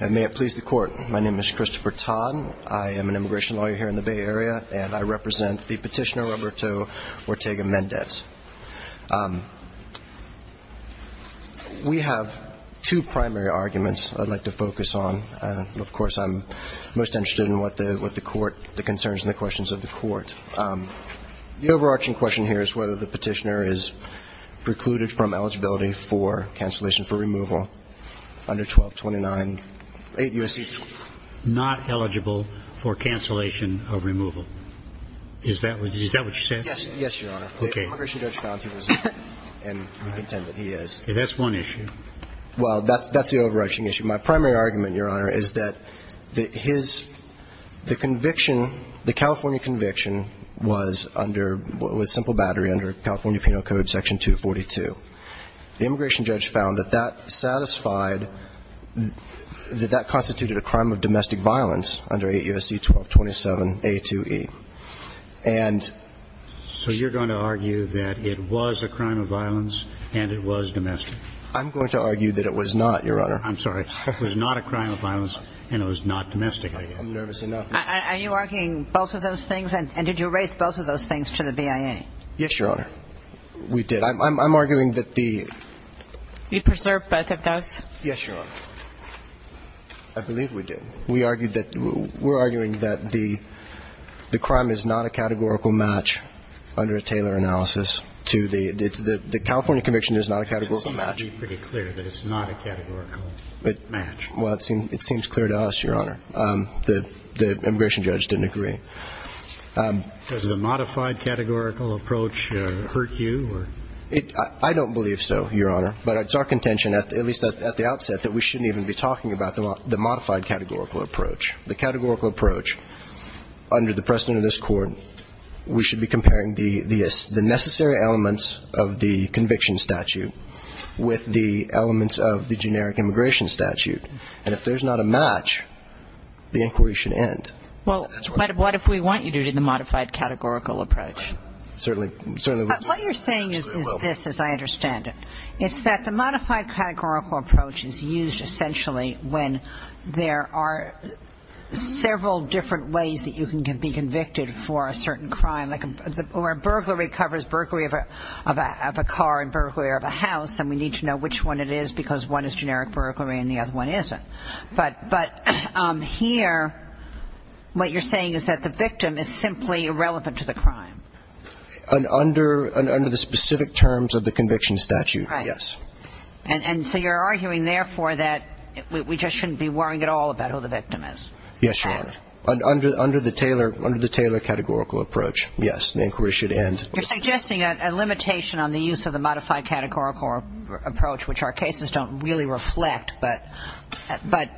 May it please the Court, my name is Christopher Todd. I am an immigration lawyer here in the Bay Area and I represent the petitioner Roberto Ortega-Mendez. We have two primary arguments I'd like to focus on. Of course I'm most interested in what the court, the concerns and the questions of the court. The overarching question here is whether the petitioner is precluded from eligibility for cancellation for removal under 1229-8 U.S.C. Not eligible for cancellation of removal. Is that what you're saying? Yes, yes, Your Honor. The immigration judge found he was not and I contend that he is. That's one issue. Well, that's the overarching issue. My primary argument, Your Honor, is that his, the conviction, the California conviction was under, was simple battery under California Penal Code Section 242. The immigration judge found that that satisfied, that that constituted a crime of domestic violence under 8 U.S.C. 1227-A2E. And So you're going to argue that it was a crime of violence and it was domestic? I'm going to argue that it was not, Your Honor. I'm sorry. It was not a crime of violence and it was not domestic. I'm nervous enough. Are you arguing both of those things? And did you raise both of those things to the BIA? Yes, Your Honor. We did. I'm arguing that the You preserved both of those? Yes, Your Honor. I believe we did. We argued that, we're arguing that the, the crime is not a categorical match under a Taylor analysis to the, the California conviction is not a categorical match. It seems to be pretty clear that it's not a categorical match. Well, it seems, it seems clear to us, Your Honor. The, the immigration judge didn't agree. Does the modified categorical approach hurt you or? I don't believe so, Your Honor. But it's our contention, at least at the outset, that we shouldn't even be talking about the modified categorical approach. The categorical approach under the precedent of this court, we should be comparing the necessary elements of the conviction statute with the elements of the generic immigration statute. And if there's not a match, the inquiry should end. Well, what if we want you to do the modified categorical approach? Certainly, certainly. What you're saying is, is this, as I understand it. It's that the modified categorical approach is used essentially when there are several different ways that you can be convicted for a certain crime, like a, or a burglary covers burglary of a, of a, of a car and burglary of a house, and we need to know which one it is because one is generic burglary and the other one isn't. But, but here, what you're saying is that the victim is simply irrelevant to the crime. Under, under the specific terms of the conviction statute, yes. And so you're arguing, therefore, that we just shouldn't be worrying at all about who the victim is. Yes, Your Honor. Under, under the Taylor, under the Taylor categorical approach, yes, the inquiry should end. You're suggesting a, a limitation on the use of the modified categorical approach, which our cases don't really reflect, but, but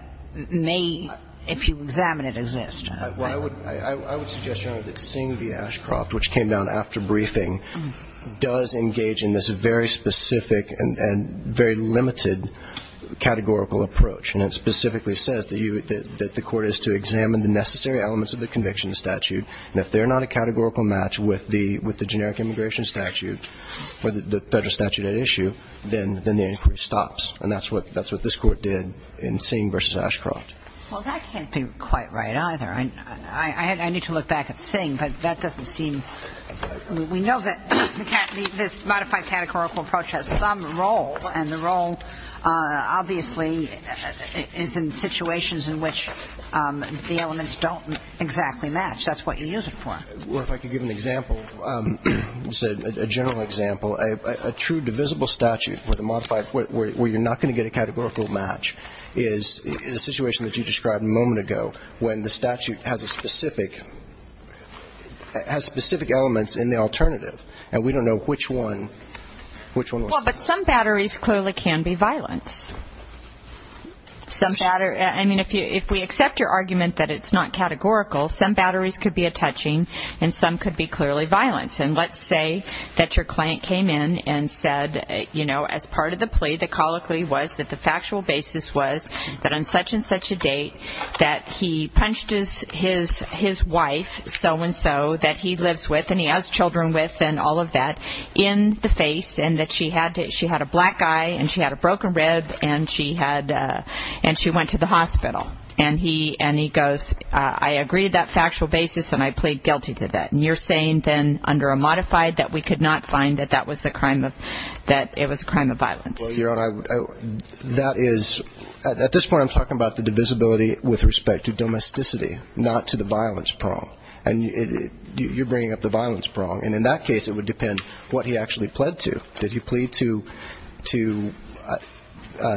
may, if you examine it, exist. Well, I would, I, I would suggest, Your Honor, that Singh v. Ashcroft, which came down after briefing, does engage in this very specific and, and very limited categorical approach. And it specifically says that you, that, that the court is to examine the necessary elements of the conviction statute, and if they're not a categorical match with the, with the generic immigration statute, or the, the federal statute at issue, then, then the inquiry stops. And that's what, that's what this court did in Singh v. Ashcroft. Well, that can't be quite right either. I, I, I, I need to look back at Singh, but that doesn't seem, we know that the, this modified categorical approach has some role, and the role obviously is in situations in which the elements don't exactly match. That's what you use it for. Well, if I could give an example, a general example. A, a, a true divisible statute with a modified, where, where you're not going to get a categorical match is, is a situation that you described a moment ago, when the statute has a specific, has specific elements in the alternative. And we don't know which one, which one was. Well, but some batteries clearly can be violence. Some batter, I mean, if you, if we accept your argument that it's not categorical, some batteries could be a touching, and some could be clearly violence. And let's say that your client came in and said, you know, as part of the plea, the colloquy was that the factual basis was that on such and such a date, that he punched his, his, his wife, so and so, that he lives with, and he has children with, and all of that, in the face, and that she had to, she had a black eye, and she had a broken rib, and she had, and she went to the hospital. And he, and he goes, I agreed that factual basis, and I plead guilty to that. And you're saying then, under a modified, that we could not find that that was a crime of, that it was a crime of violence. Well, your Honor, I, I, that is, at this point I'm talking about the divisibility with respect to domesticity, not to the violence prong. And it, it, you're bringing up the violence prong. And in that case, it would depend what he actually pled to. Did he plead to, to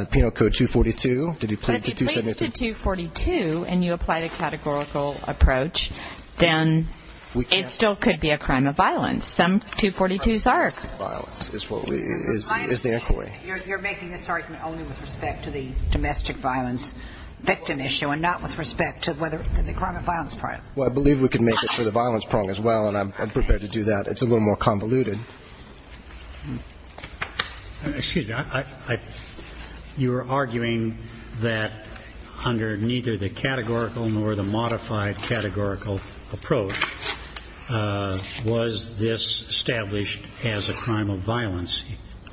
Penal Code 242? Did he plead to 272? If he pleads to 242, and you apply the categorical approach, then it still could be a crime of violence. Some 242s are. Violence is what we, is, is the inquiry. I understand. You're, you're making this argument only with respect to the domestic violence victim issue, and not with respect to whether, to the crime of violence prong. Well, I believe we could make it for the violence prong as well, and I'm, I'm prepared to do that. It's a little more convoluted. Excuse me, I, I, you're arguing that under neither the categorical nor the modified categorical approach was this established as a crime of violence.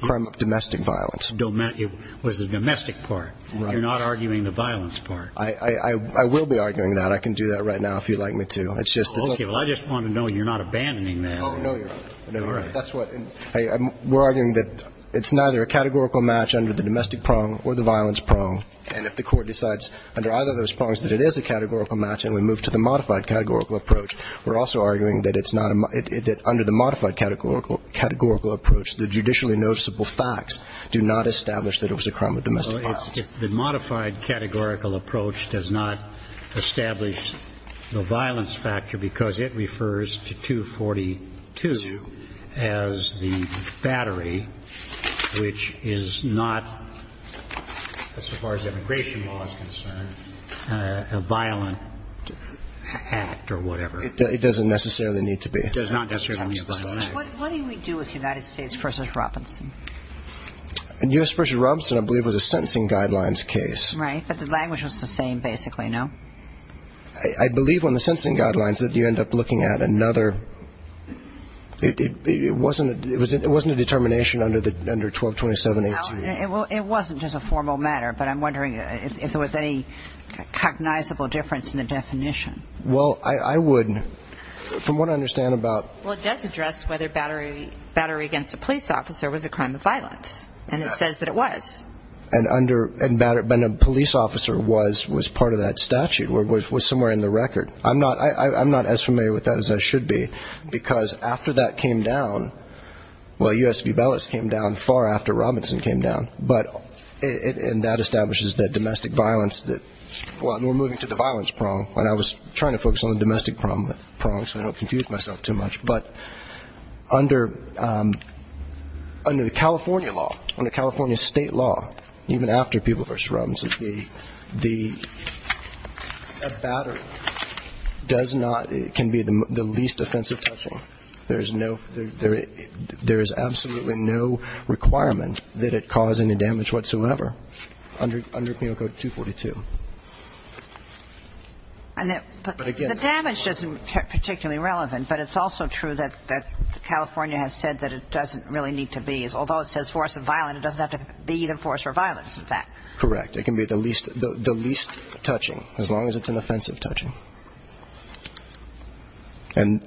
Crime of domestic violence. Domestic, it was the domestic part. Right. You're not arguing the violence part. I, I, I will be arguing that. I can do that right now if you'd like me to. It's just, it's. Okay. Well, I just want to know you're not abandoning that. Oh, no, you're not. No, you're not. That's what. I, I'm, we're arguing that it's neither a categorical match under the domestic prong or the violence prong, and if the court decides under either of those prongs that it is a categorical match and we move to the modified categorical approach, we're also arguing that it's not a, it, it, that under the modified categorical, categorical approach, the judicially noticeable facts do not establish that it was a crime of domestic violence. Well, it's, it's, the modified categorical approach does not establish the violence factor because it refers to 242 as the battery, which is not, as far as immigration law is concerned, a violent act or whatever. It doesn't necessarily need to be. It does not necessarily need to be a violent act. What do we do with United States v. Robinson? And U.S. v. Robinson, I believe, was a sentencing guidelines case. Right. But the language was the same, basically, no? I, I believe on the sentencing guidelines that you end up looking at another, it, it, it wasn't a, it was, it wasn't a determination under the, under 1227-18. Well, it, it wasn't just a formal matter, but I'm wondering if, if there was any cognizable difference in the definition. Well, I, I would. From what I understand about. Well, it does address whether battery, battery against a police officer was a crime of violence. And it says that it was. And under, and battery, when a police officer was, was part of that statute, was, was somewhere in the record. I'm not, I, I'm not as familiar with that as I should be because after that came down, well, U.S. v. Bellas came down far after Robinson came down. But it, and that establishes that domestic violence that, well, we're moving to the violence prong. And I was trying to focus on the domestic prong, prong, so I don't confuse myself too much. But under, under the California law, under California state law, even after people v. Robinson, the, the, a battery does not, can be the least offensive touching. There's no, there, there is absolutely no requirement that it cause any damage whatsoever under, under Penal Code 242. And that, but again, the damage isn't particularly relevant, but it's also true that, that California has said that it doesn't really need to be, although it says force of violence, it doesn't have to be either force or violence with that. Correct. It can be the least, the least touching, as long as it's an offensive touching. And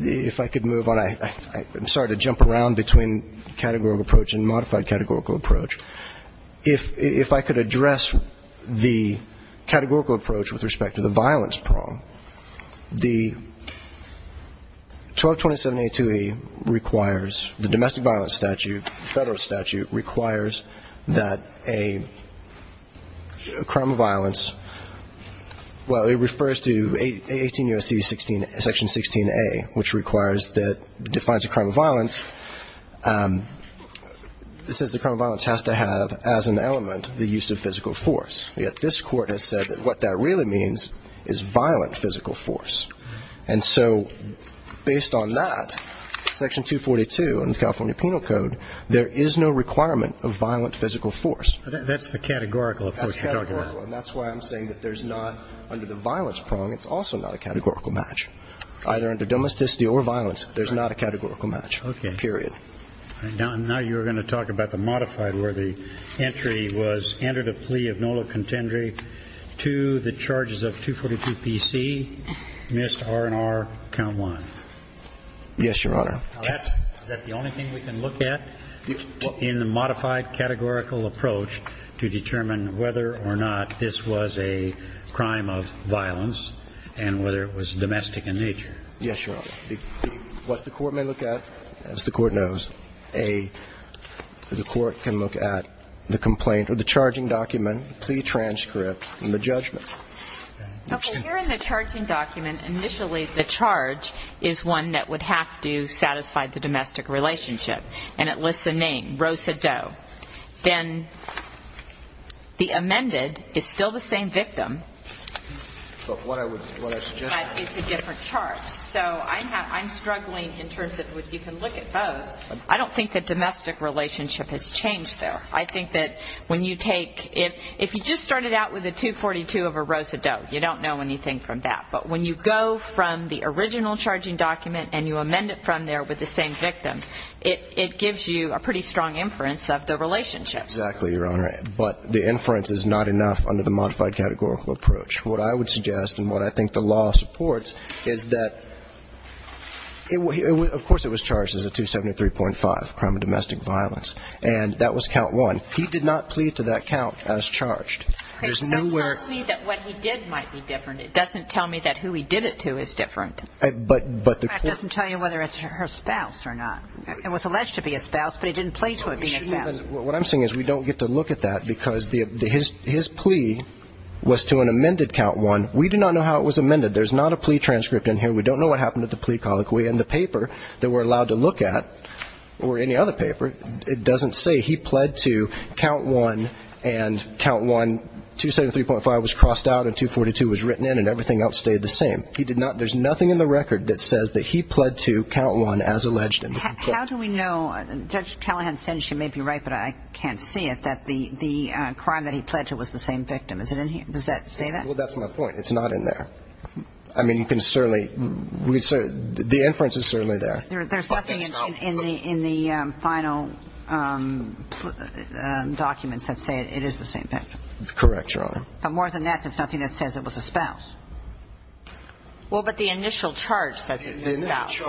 if I could move on, I, I, I'm sorry to jump around between categorical approach and modified categorical approach. If, if I could address the categorical approach with respect to the violence prong. The 1227A2E requires, the domestic violence statute, federal statute requires that a crime of violence, well, it refers to 18 U.S.C. 16, Section 16A, which requires that, defines a crime of violence, it says the crime of violence has to have as an element the use of physical force. Yet this Court has said that what that really means is violent physical force. And so based on that, Section 242 in the California Penal Code, there is no requirement of violent physical force. That's the categorical approach. That's categorical. And that's why I'm saying that there's not, under the violence prong, it's also not a categorical match. Either under domesticity or violence, there's not a categorical match. Okay. Period. Now, now you're going to talk about the modified where the entry was entered a plea of nolo contendere to the charges of 242 PC, missed R and R, count one. Yes, Your Honor. Now that's, is that the only thing we can look at? In the modified categorical approach to determine whether or not this was a crime of violence and whether it was domestic in nature. Yes, Your Honor. What the Court may look at, as the Court knows, a, the Court can look at the complaint or the charging document, plea transcript, and the judgment. Okay. Here in the charging document, initially the charge is one that would have to satisfy the domestic relationship. And it lists a name, Rosa Doe. Then the amended is still the same victim. But what I would, what I suggest is a different chart. So I'm, I'm struggling in terms of what you can look at both. I don't think that domestic relationship has changed there. I think that when you take, if, if you just started out with a 242 of a Rosa Doe, you don't know anything from that. But when you go from the original charging document and you amend it from there with the same victim, it, it gives you a pretty strong inference of the relationship. Exactly, Your Honor. But the inference is not enough under the modified categorical approach. What I would suggest and what I think the law supports is that it, of course, it was charged as a 273.5, crime of domestic violence, and that was count one. He did not plead to that count as charged. There's nowhere. It tells me that what he did might be different. It doesn't tell me that who he did it to is different. But, but the Court. In fact, it doesn't tell you whether it's her spouse or not. It was alleged to be a spouse, but it didn't plead to it being a spouse. What I'm saying is we don't get to look at that because the, his, his plea was to an amended count one. We do not know how it was amended. There's not a plea transcript in here. We don't know what happened at the plea colloquy and the paper that we're allowed to look at or any other paper, it doesn't say he pled to count one and count one, 273.5 was crossed out and 242 was written in and everything else stayed the same. He did not, there's nothing in the record that says that he pled to count one as alleged in the plea. How do we know, Judge Callahan said, and she may be right, but I can't see it, that the, the crime that he pled to was the same victim. Is it in here? Does that say that? Well, that's my point. It's not in there. I mean, you can certainly, we can certainly, the inference is certainly there. There's nothing in the, in the final documents that say it is the same victim. Correct, Your Honor. But more than that, there's nothing that says it was a spouse. Well, but the initial charge says it was a spouse.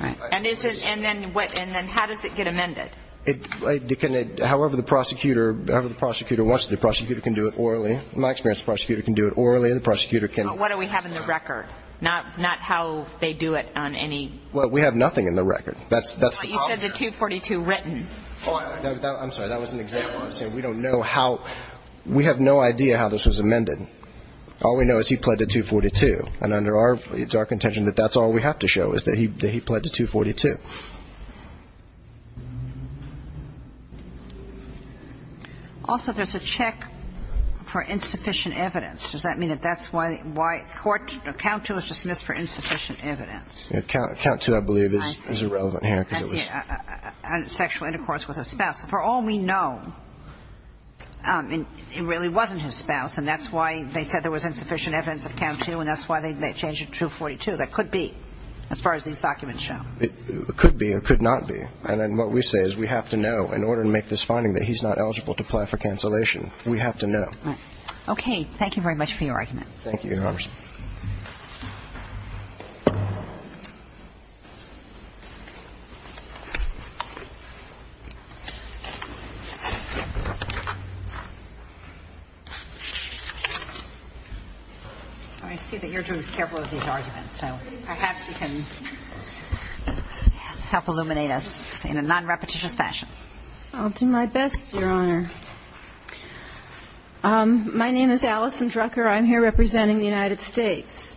And is it, and then what, and then how does it get amended? It, it can, however the prosecutor, however the prosecutor wants to, the prosecutor can do it orally. In my experience, the prosecutor can do it orally and the prosecutor can. What do we have in the record? Not how they do it on any. Well, we have nothing in the record. That's, that's the problem here. But you said the 242 written. Oh, I, that, I'm sorry. That was an example. I'm saying we don't know how, we have no idea how this was amended. All we know is he pled to 242 and under our, it's our contention that that's all we have to show is that he, that he pled to 242. Also there's a check for insufficient evidence. Does that mean that that's why, why court, count two is dismissed for insufficient evidence. Yeah, count, count two I believe is, is irrelevant here because it was. Sexual intercourse with a spouse. For all we know, it really wasn't his spouse and that's why they said there was insufficient evidence of count two and that's why they, they changed it to 242. That could be, as far as these documents show, it could be or could not be. And then what we say is we have to know in order to make this finding that he's not eligible to apply for cancellation. We have to know. Right. Okay. Thank you, Your Honor. I see that you're doing several of these arguments, so perhaps you can help illuminate us in a non-repetitious fashion. I'll do my best, Your Honor. My name is Allison Drucker. I'm here representing the United States.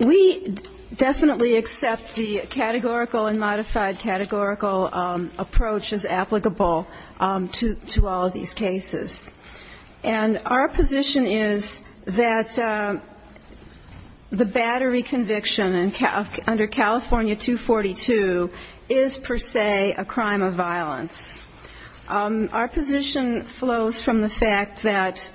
We definitely accept the categorical and modified categorical approach as applicable to all of these cases. And our position is that the battery conviction under California 242 is per se a crime of violence. Our position flows from the fact that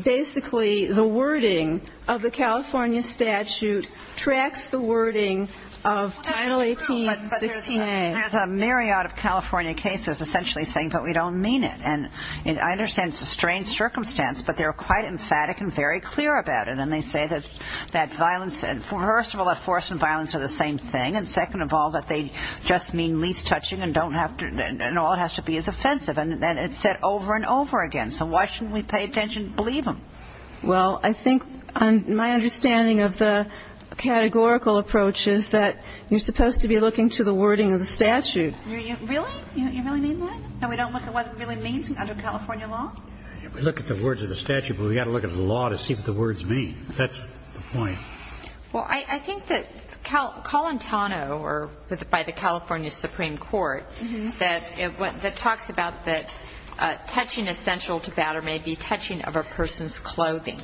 basically the wording of the California statute tracks the wording of Title 18, 16A. Well, that's true, but there's a myriad of California cases essentially saying, but we don't mean it. And I understand it's a strange circumstance, but they're quite emphatic and very clear about it. And they say that violence, first of all, that force and violence are the same thing. And second of all, that they just mean least touching and don't have to, and all it has to be is offensive. And it's said over and over again. So why shouldn't we pay attention and believe them? Well, I think my understanding of the categorical approach is that you're supposed to be looking to the wording of the statute. Really? You really mean that? That we don't look at what it really means under California law? We look at the words of the statute, but we've got to look at the law to see what the words mean. That's the point. Well, I think that Colantano, or by the California Supreme Court, that talks about that touching essential to batter may be touching of a person's clothing.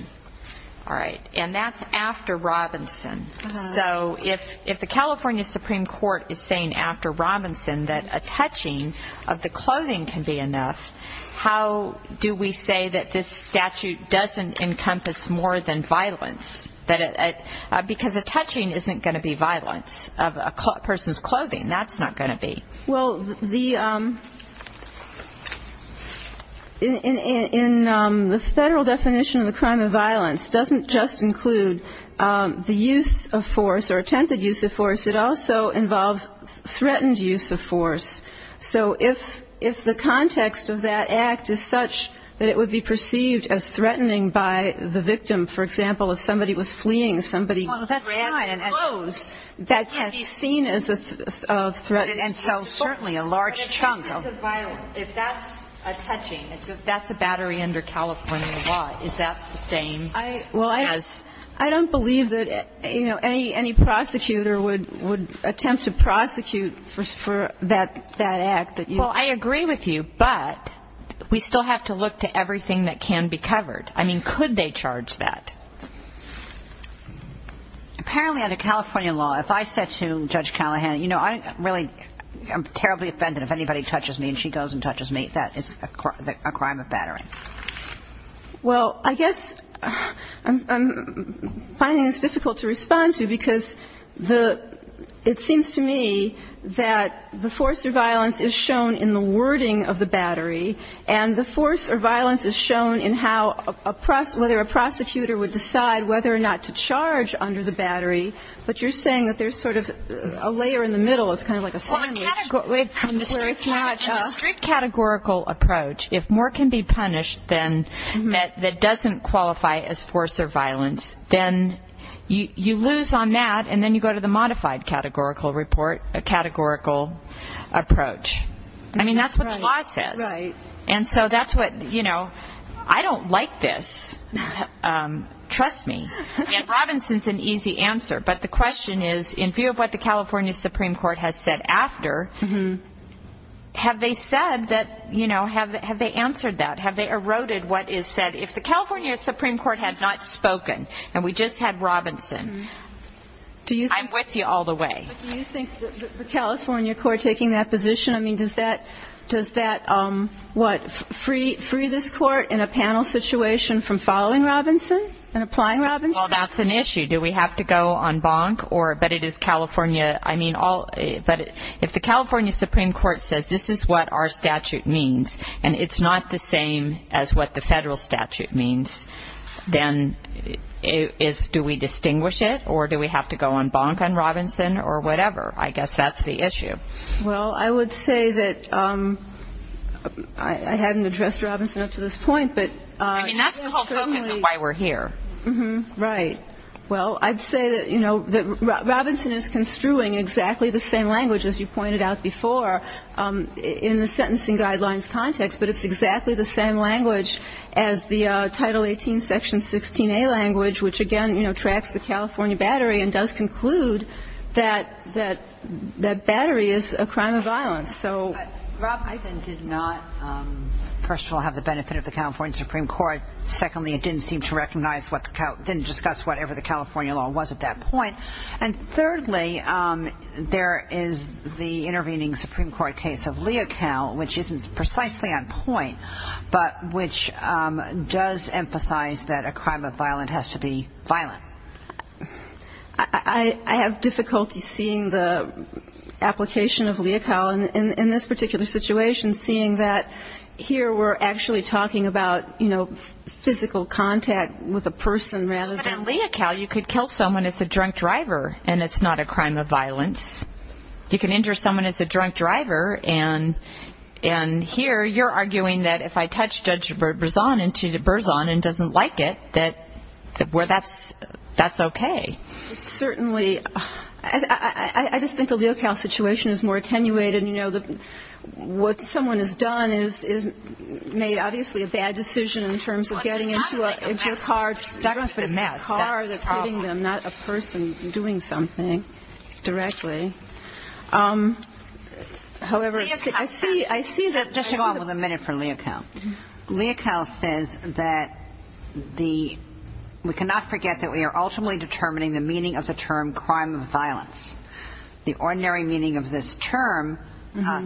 And that's after Robinson. So if the California Supreme Court is saying after Robinson that a touching of the clothing can be enough, how do we say that this statute doesn't encompass more than violence? Because a touching isn't going to be violence of a person's clothing. That's not going to be. Well, the federal definition of the crime of violence doesn't just include the use of force or attempted use of force. It also involves threatened use of force. So if the context of that act is such that it would be perceived as threatening by the person. Somebody was fleeing. Somebody grabbed them. That's fine. And clothes. That can be seen as a threat. And so, certainly, a large chunk of. But if that's a violence, if that's a touching, if that's a battery under California law, is that the same? Well, I don't believe that, you know, any prosecutor would attempt to prosecute for that act. Well, I agree with you, but we still have to look to everything that can be covered. I mean, could they charge that? I don't know. I don't know. I don't know. I don't know. I don't know. I don't know. I don't know. Apparently, under California law, if I said to Judge Callahan, you know, I'm really terribly offended if anybody touches me and she goes and touches me, that is a crime of battery. Well, I guess I'm finding this difficult to respond to because it seems to me that the force or violence is shown in the wording of the battery and the force or violence is shown in whether a prosecutor would decide whether or not to charge under the battery, but you're saying that there's sort of a layer in the middle, it's kind of like a sandwich. Well, in the strict categorical approach, if more can be punished than doesn't qualify as force or violence, then you lose on that and then you go to the modified categorical approach. I mean, that's what the law says. Right. Right. And so that's what, you know, I don't like this. Trust me. And Robinson's an easy answer, but the question is, in view of what the California Supreme Court has said after, have they said that, you know, have they answered that? Have they eroded what is said? If the California Supreme Court had not spoken and we just had Robinson, I'm with you all the way. But do you think the California court taking that position, I mean, does that, does that what, free this court in a panel situation from following Robinson and applying Robinson? Well, that's an issue. Do we have to go on bonk or, but it is California, I mean, all, but if the California Supreme Court says this is what our statute means and it's not the same as what the federal statute means, then do we distinguish it or do we have to go on bonk on Robinson or whatever? I guess that's the issue. Well, I would say that I hadn't addressed Robinson up to this point, but I mean, that's the whole focus of why we're here. Right. Well, I'd say that, you know, that Robinson is construing exactly the same language as you pointed out before in the sentencing guidelines context, but it's exactly the same language as the Title 18, Section 16a language, which, again, you know, tracks the California battery and does conclude that, that, that battery is a crime of violence. So. But Robinson did not, first of all, have the benefit of the California Supreme Court. Secondly, it didn't seem to recognize what the, didn't discuss whatever the California law was at that point. And thirdly, there is the intervening Supreme Court case of Leocal, which isn't precisely on point, but which does emphasize that a crime of violence has to be violent. I have difficulty seeing the application of Leocal in this particular situation, seeing that here we're actually talking about, you know, physical contact with a person rather than. But in Leocal, you could kill someone as a drunk driver, and it's not a crime of violence. You can injure someone as a drunk driver, and here you're arguing that if I touch Judge Berzon into Berzon and doesn't like it, that, where that's, that's okay. Certainly. I just think the Leocal situation is more attenuated. You know, what someone has done is, is made obviously a bad decision in terms of getting into a, into a car, stuck in a car that's hitting them, not a person doing something directly. However, I see, I see that. So just to go on with a minute for Leocal. Leocal says that the, we cannot forget that we are ultimately determining the meaning of the term crime of violence. The ordinary meaning of this term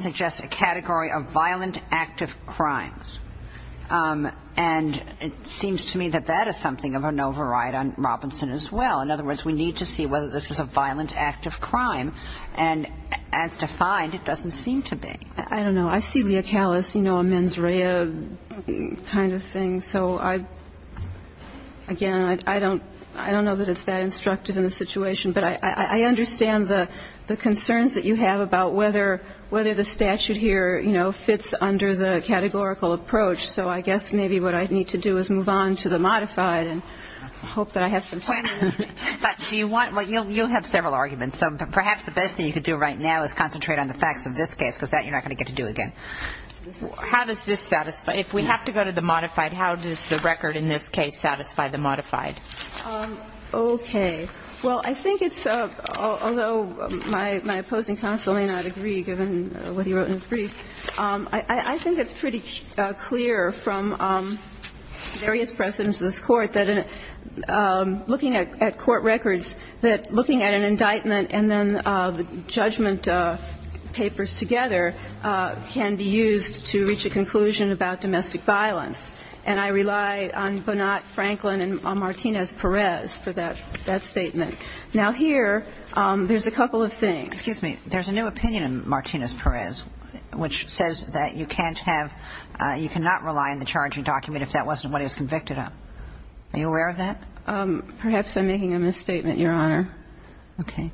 suggests a category of violent active crimes. And it seems to me that that is something of an override on Robinson as well. In other words, we need to see whether this is a violent active crime. And as defined, it doesn't seem to be. I don't know. I see Leocal as, you know, a mens rea kind of thing. So I, again, I don't, I don't know that it's that instructive in the situation. But I, I understand the, the concerns that you have about whether, whether the statute here, you know, fits under the categorical approach. So I guess maybe what I need to do is move on to the modified and hope that I have some time. But do you want, you'll, you'll have several arguments. So perhaps the best thing you could do right now is concentrate on the facts of this case, because that you're not going to get to do again. How does this satisfy, if we have to go to the modified, how does the record in this case satisfy the modified? Okay. Well, I think it's, although my, my opposing counsel may not agree, given what he wrote in his brief, I, I think it's pretty clear from various precedents of this court that looking at, at court records, that looking at an indictment and then the papers together can be used to reach a conclusion about domestic violence. And I rely on Bonat, Franklin, and Martinez-Perez for that, that statement. Now, here, there's a couple of things. Excuse me. There's a new opinion in Martinez-Perez, which says that you can't have, you cannot rely on the charging document if that wasn't what he was convicted of. Are you aware of that? Perhaps I'm making a misstatement, Your Honor. Okay.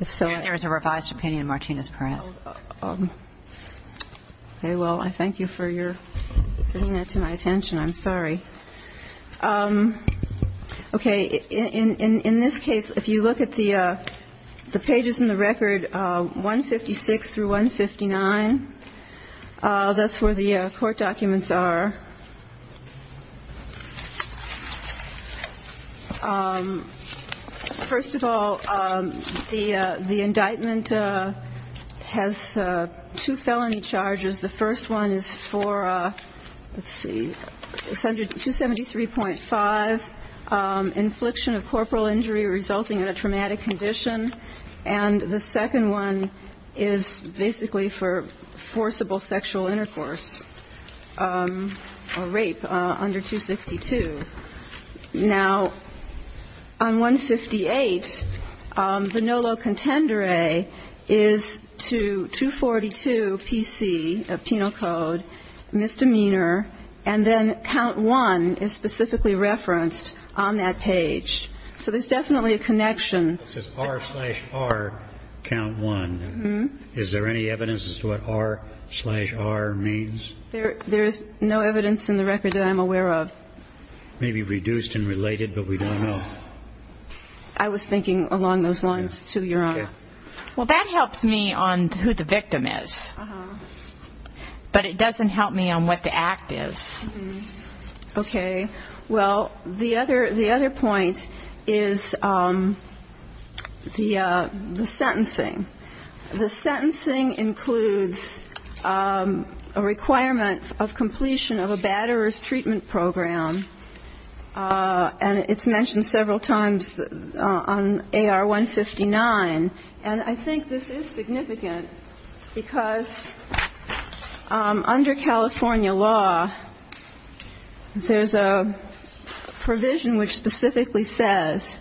If so. There is a revised opinion in Martinez-Perez. Okay. Well, I thank you for your bringing that to my attention. I'm sorry. Okay. In, in, in this case, if you look at the, the pages in the record, 156 through 159, that's where the court documents are. First of all, the, the indictment has two felony charges. The first one is for, let's see, 273.5, infliction of corporal injury resulting in a traumatic condition. And the second one is basically for forcible sexual intercourse or rape under 262. Now, on 158, the NOLO contendere is to 242 PC, a penal code, misdemeanor, and then count one is specifically referenced on that page. So there's definitely a connection. This is R slash R, count one. Is there any evidence as to what R slash R means? There, there's no evidence in the record that I'm aware of. Maybe reduced and related, but we don't know. I was thinking along those lines, too, Your Honor. Okay. Well, that helps me on who the victim is. Uh-huh. But it doesn't help me on what the act is. Okay. Well, the other, the other point is the, the sentencing. The sentencing includes a requirement of completion of a batterer's treatment program, and it's mentioned several times on AR-159. And I think this is significant because under California law, there's a provision which specifically says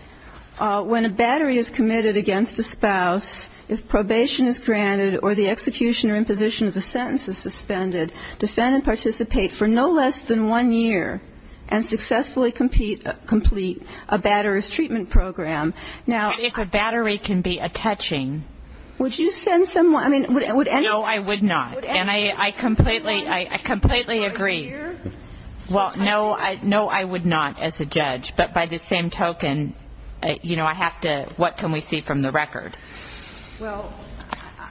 when a battery is committed against a spouse, if probation is granted or the execution or imposition of the sentence is suspended, defend and participate for no less than one year and successfully complete a batterer's treatment program. Now, if a battery can be a touching, would you send someone, I mean, would any? No, I would not. And I completely, I completely agree. Well, no, I would not as a judge. But by the same token, you know, I have to, what can we see from the record? Well,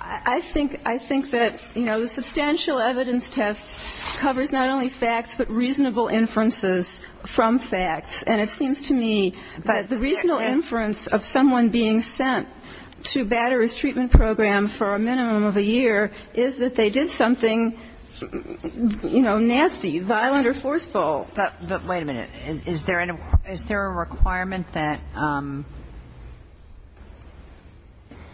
I think, I think that, you know, the substantial evidence test covers not only facts, but reasonable inferences from facts. And it seems to me that the reasonable inference of someone being sent to a batterer's treatment program is that they did something, you know, nasty, violent or forceful. But wait a minute. Is there a requirement that ‑‑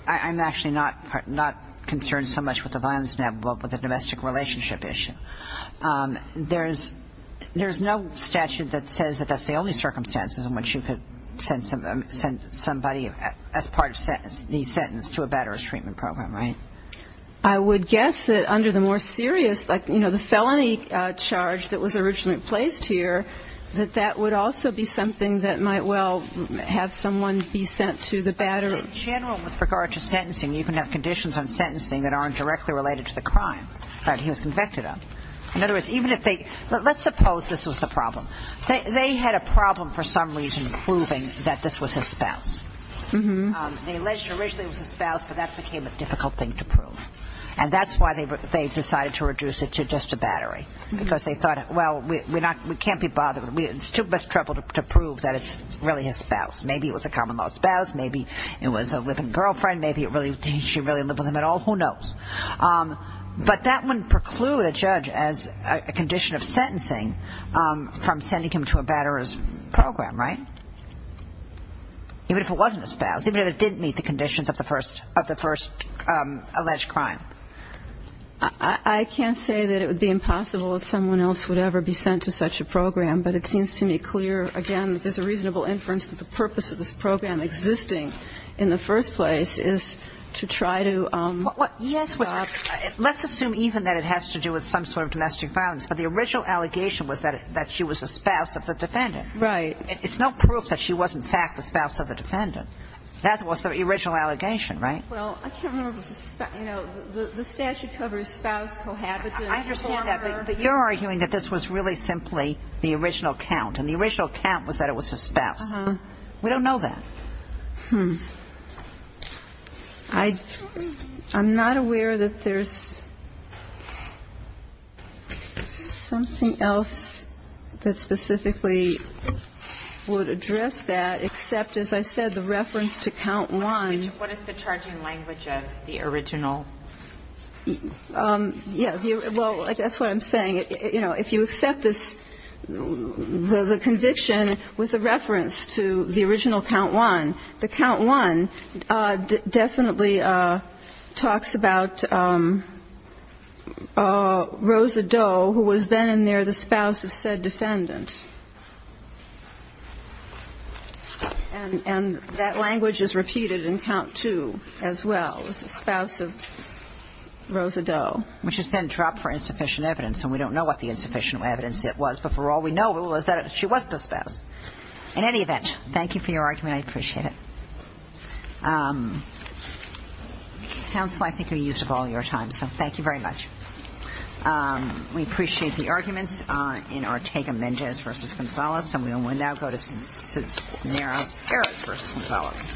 I'm actually not concerned so much with the violence now, but with the domestic relationship issue. There's no statute that says that that's the only circumstances in which you could send somebody as part of the sentence to a batterer's treatment program, right? I would guess that under the more serious, like, you know, the felony charge that was originally placed here, that that would also be something that might well have someone be sent to the batterer. In general, with regard to sentencing, you can have conditions on sentencing that aren't directly related to the crime that he was convicted of. In other words, even if they ‑‑ let's suppose this was the problem. They had a problem for some reason proving that this was his spouse. They alleged originally it was his spouse, but that became a difficult thing to prove. And that's why they decided to reduce it to just a battery, because they thought, well, we can't be bothered. It's too much trouble to prove that it's really his spouse. Maybe it was a common-law spouse. Maybe it was a living girlfriend. Maybe she really lived with him at all. Who knows? But that wouldn't preclude a judge, as a condition of sentencing, from sending him to a batterer's program, right? Even if it wasn't his spouse. Even if it didn't meet the conditions of the first alleged crime. I can't say that it would be impossible that someone else would ever be sent to such a program, but it seems to me clear, again, that there's a reasonable inference that the purpose of this program existing in the first place is to try to ‑‑ Yes, but let's assume even that it has to do with some sort of domestic violence. But the original allegation was that she was a spouse of the defendant. Right. It's no proof that she was, in fact, the spouse of the defendant. That was the original allegation, right? Well, I can't remember if it was a ‑‑ you know, the statute covers spouse, cohabitant, former. I understand that, but you're arguing that this was really simply the original count, and the original count was that it was his spouse. Uh-huh. We don't know that. Hmm. I'm not aware that there's something else that specifically would address that, except, as I said, the reference to count one. What is the charging language of the original? Yeah. Well, that's what I'm saying. You know, if you accept this ‑‑ the conviction with a reference to the original count one, the count one definitely talks about Rosa Doe, who was then in there the spouse of said defendant. And that language is repeated in count two as well, the spouse of Rosa Doe. Which is then dropped for insufficient evidence. And we don't know what the insufficient evidence yet was. But for all we know, it was that she was the spouse. In any event, thank you for your argument. I appreciate it. Counsel, I think we're used up all your time. So thank you very much. We appreciate the arguments in Ortega‑Mendez v. Gonzales. And we will now go to Cisneros‑Harris v. Gonzales.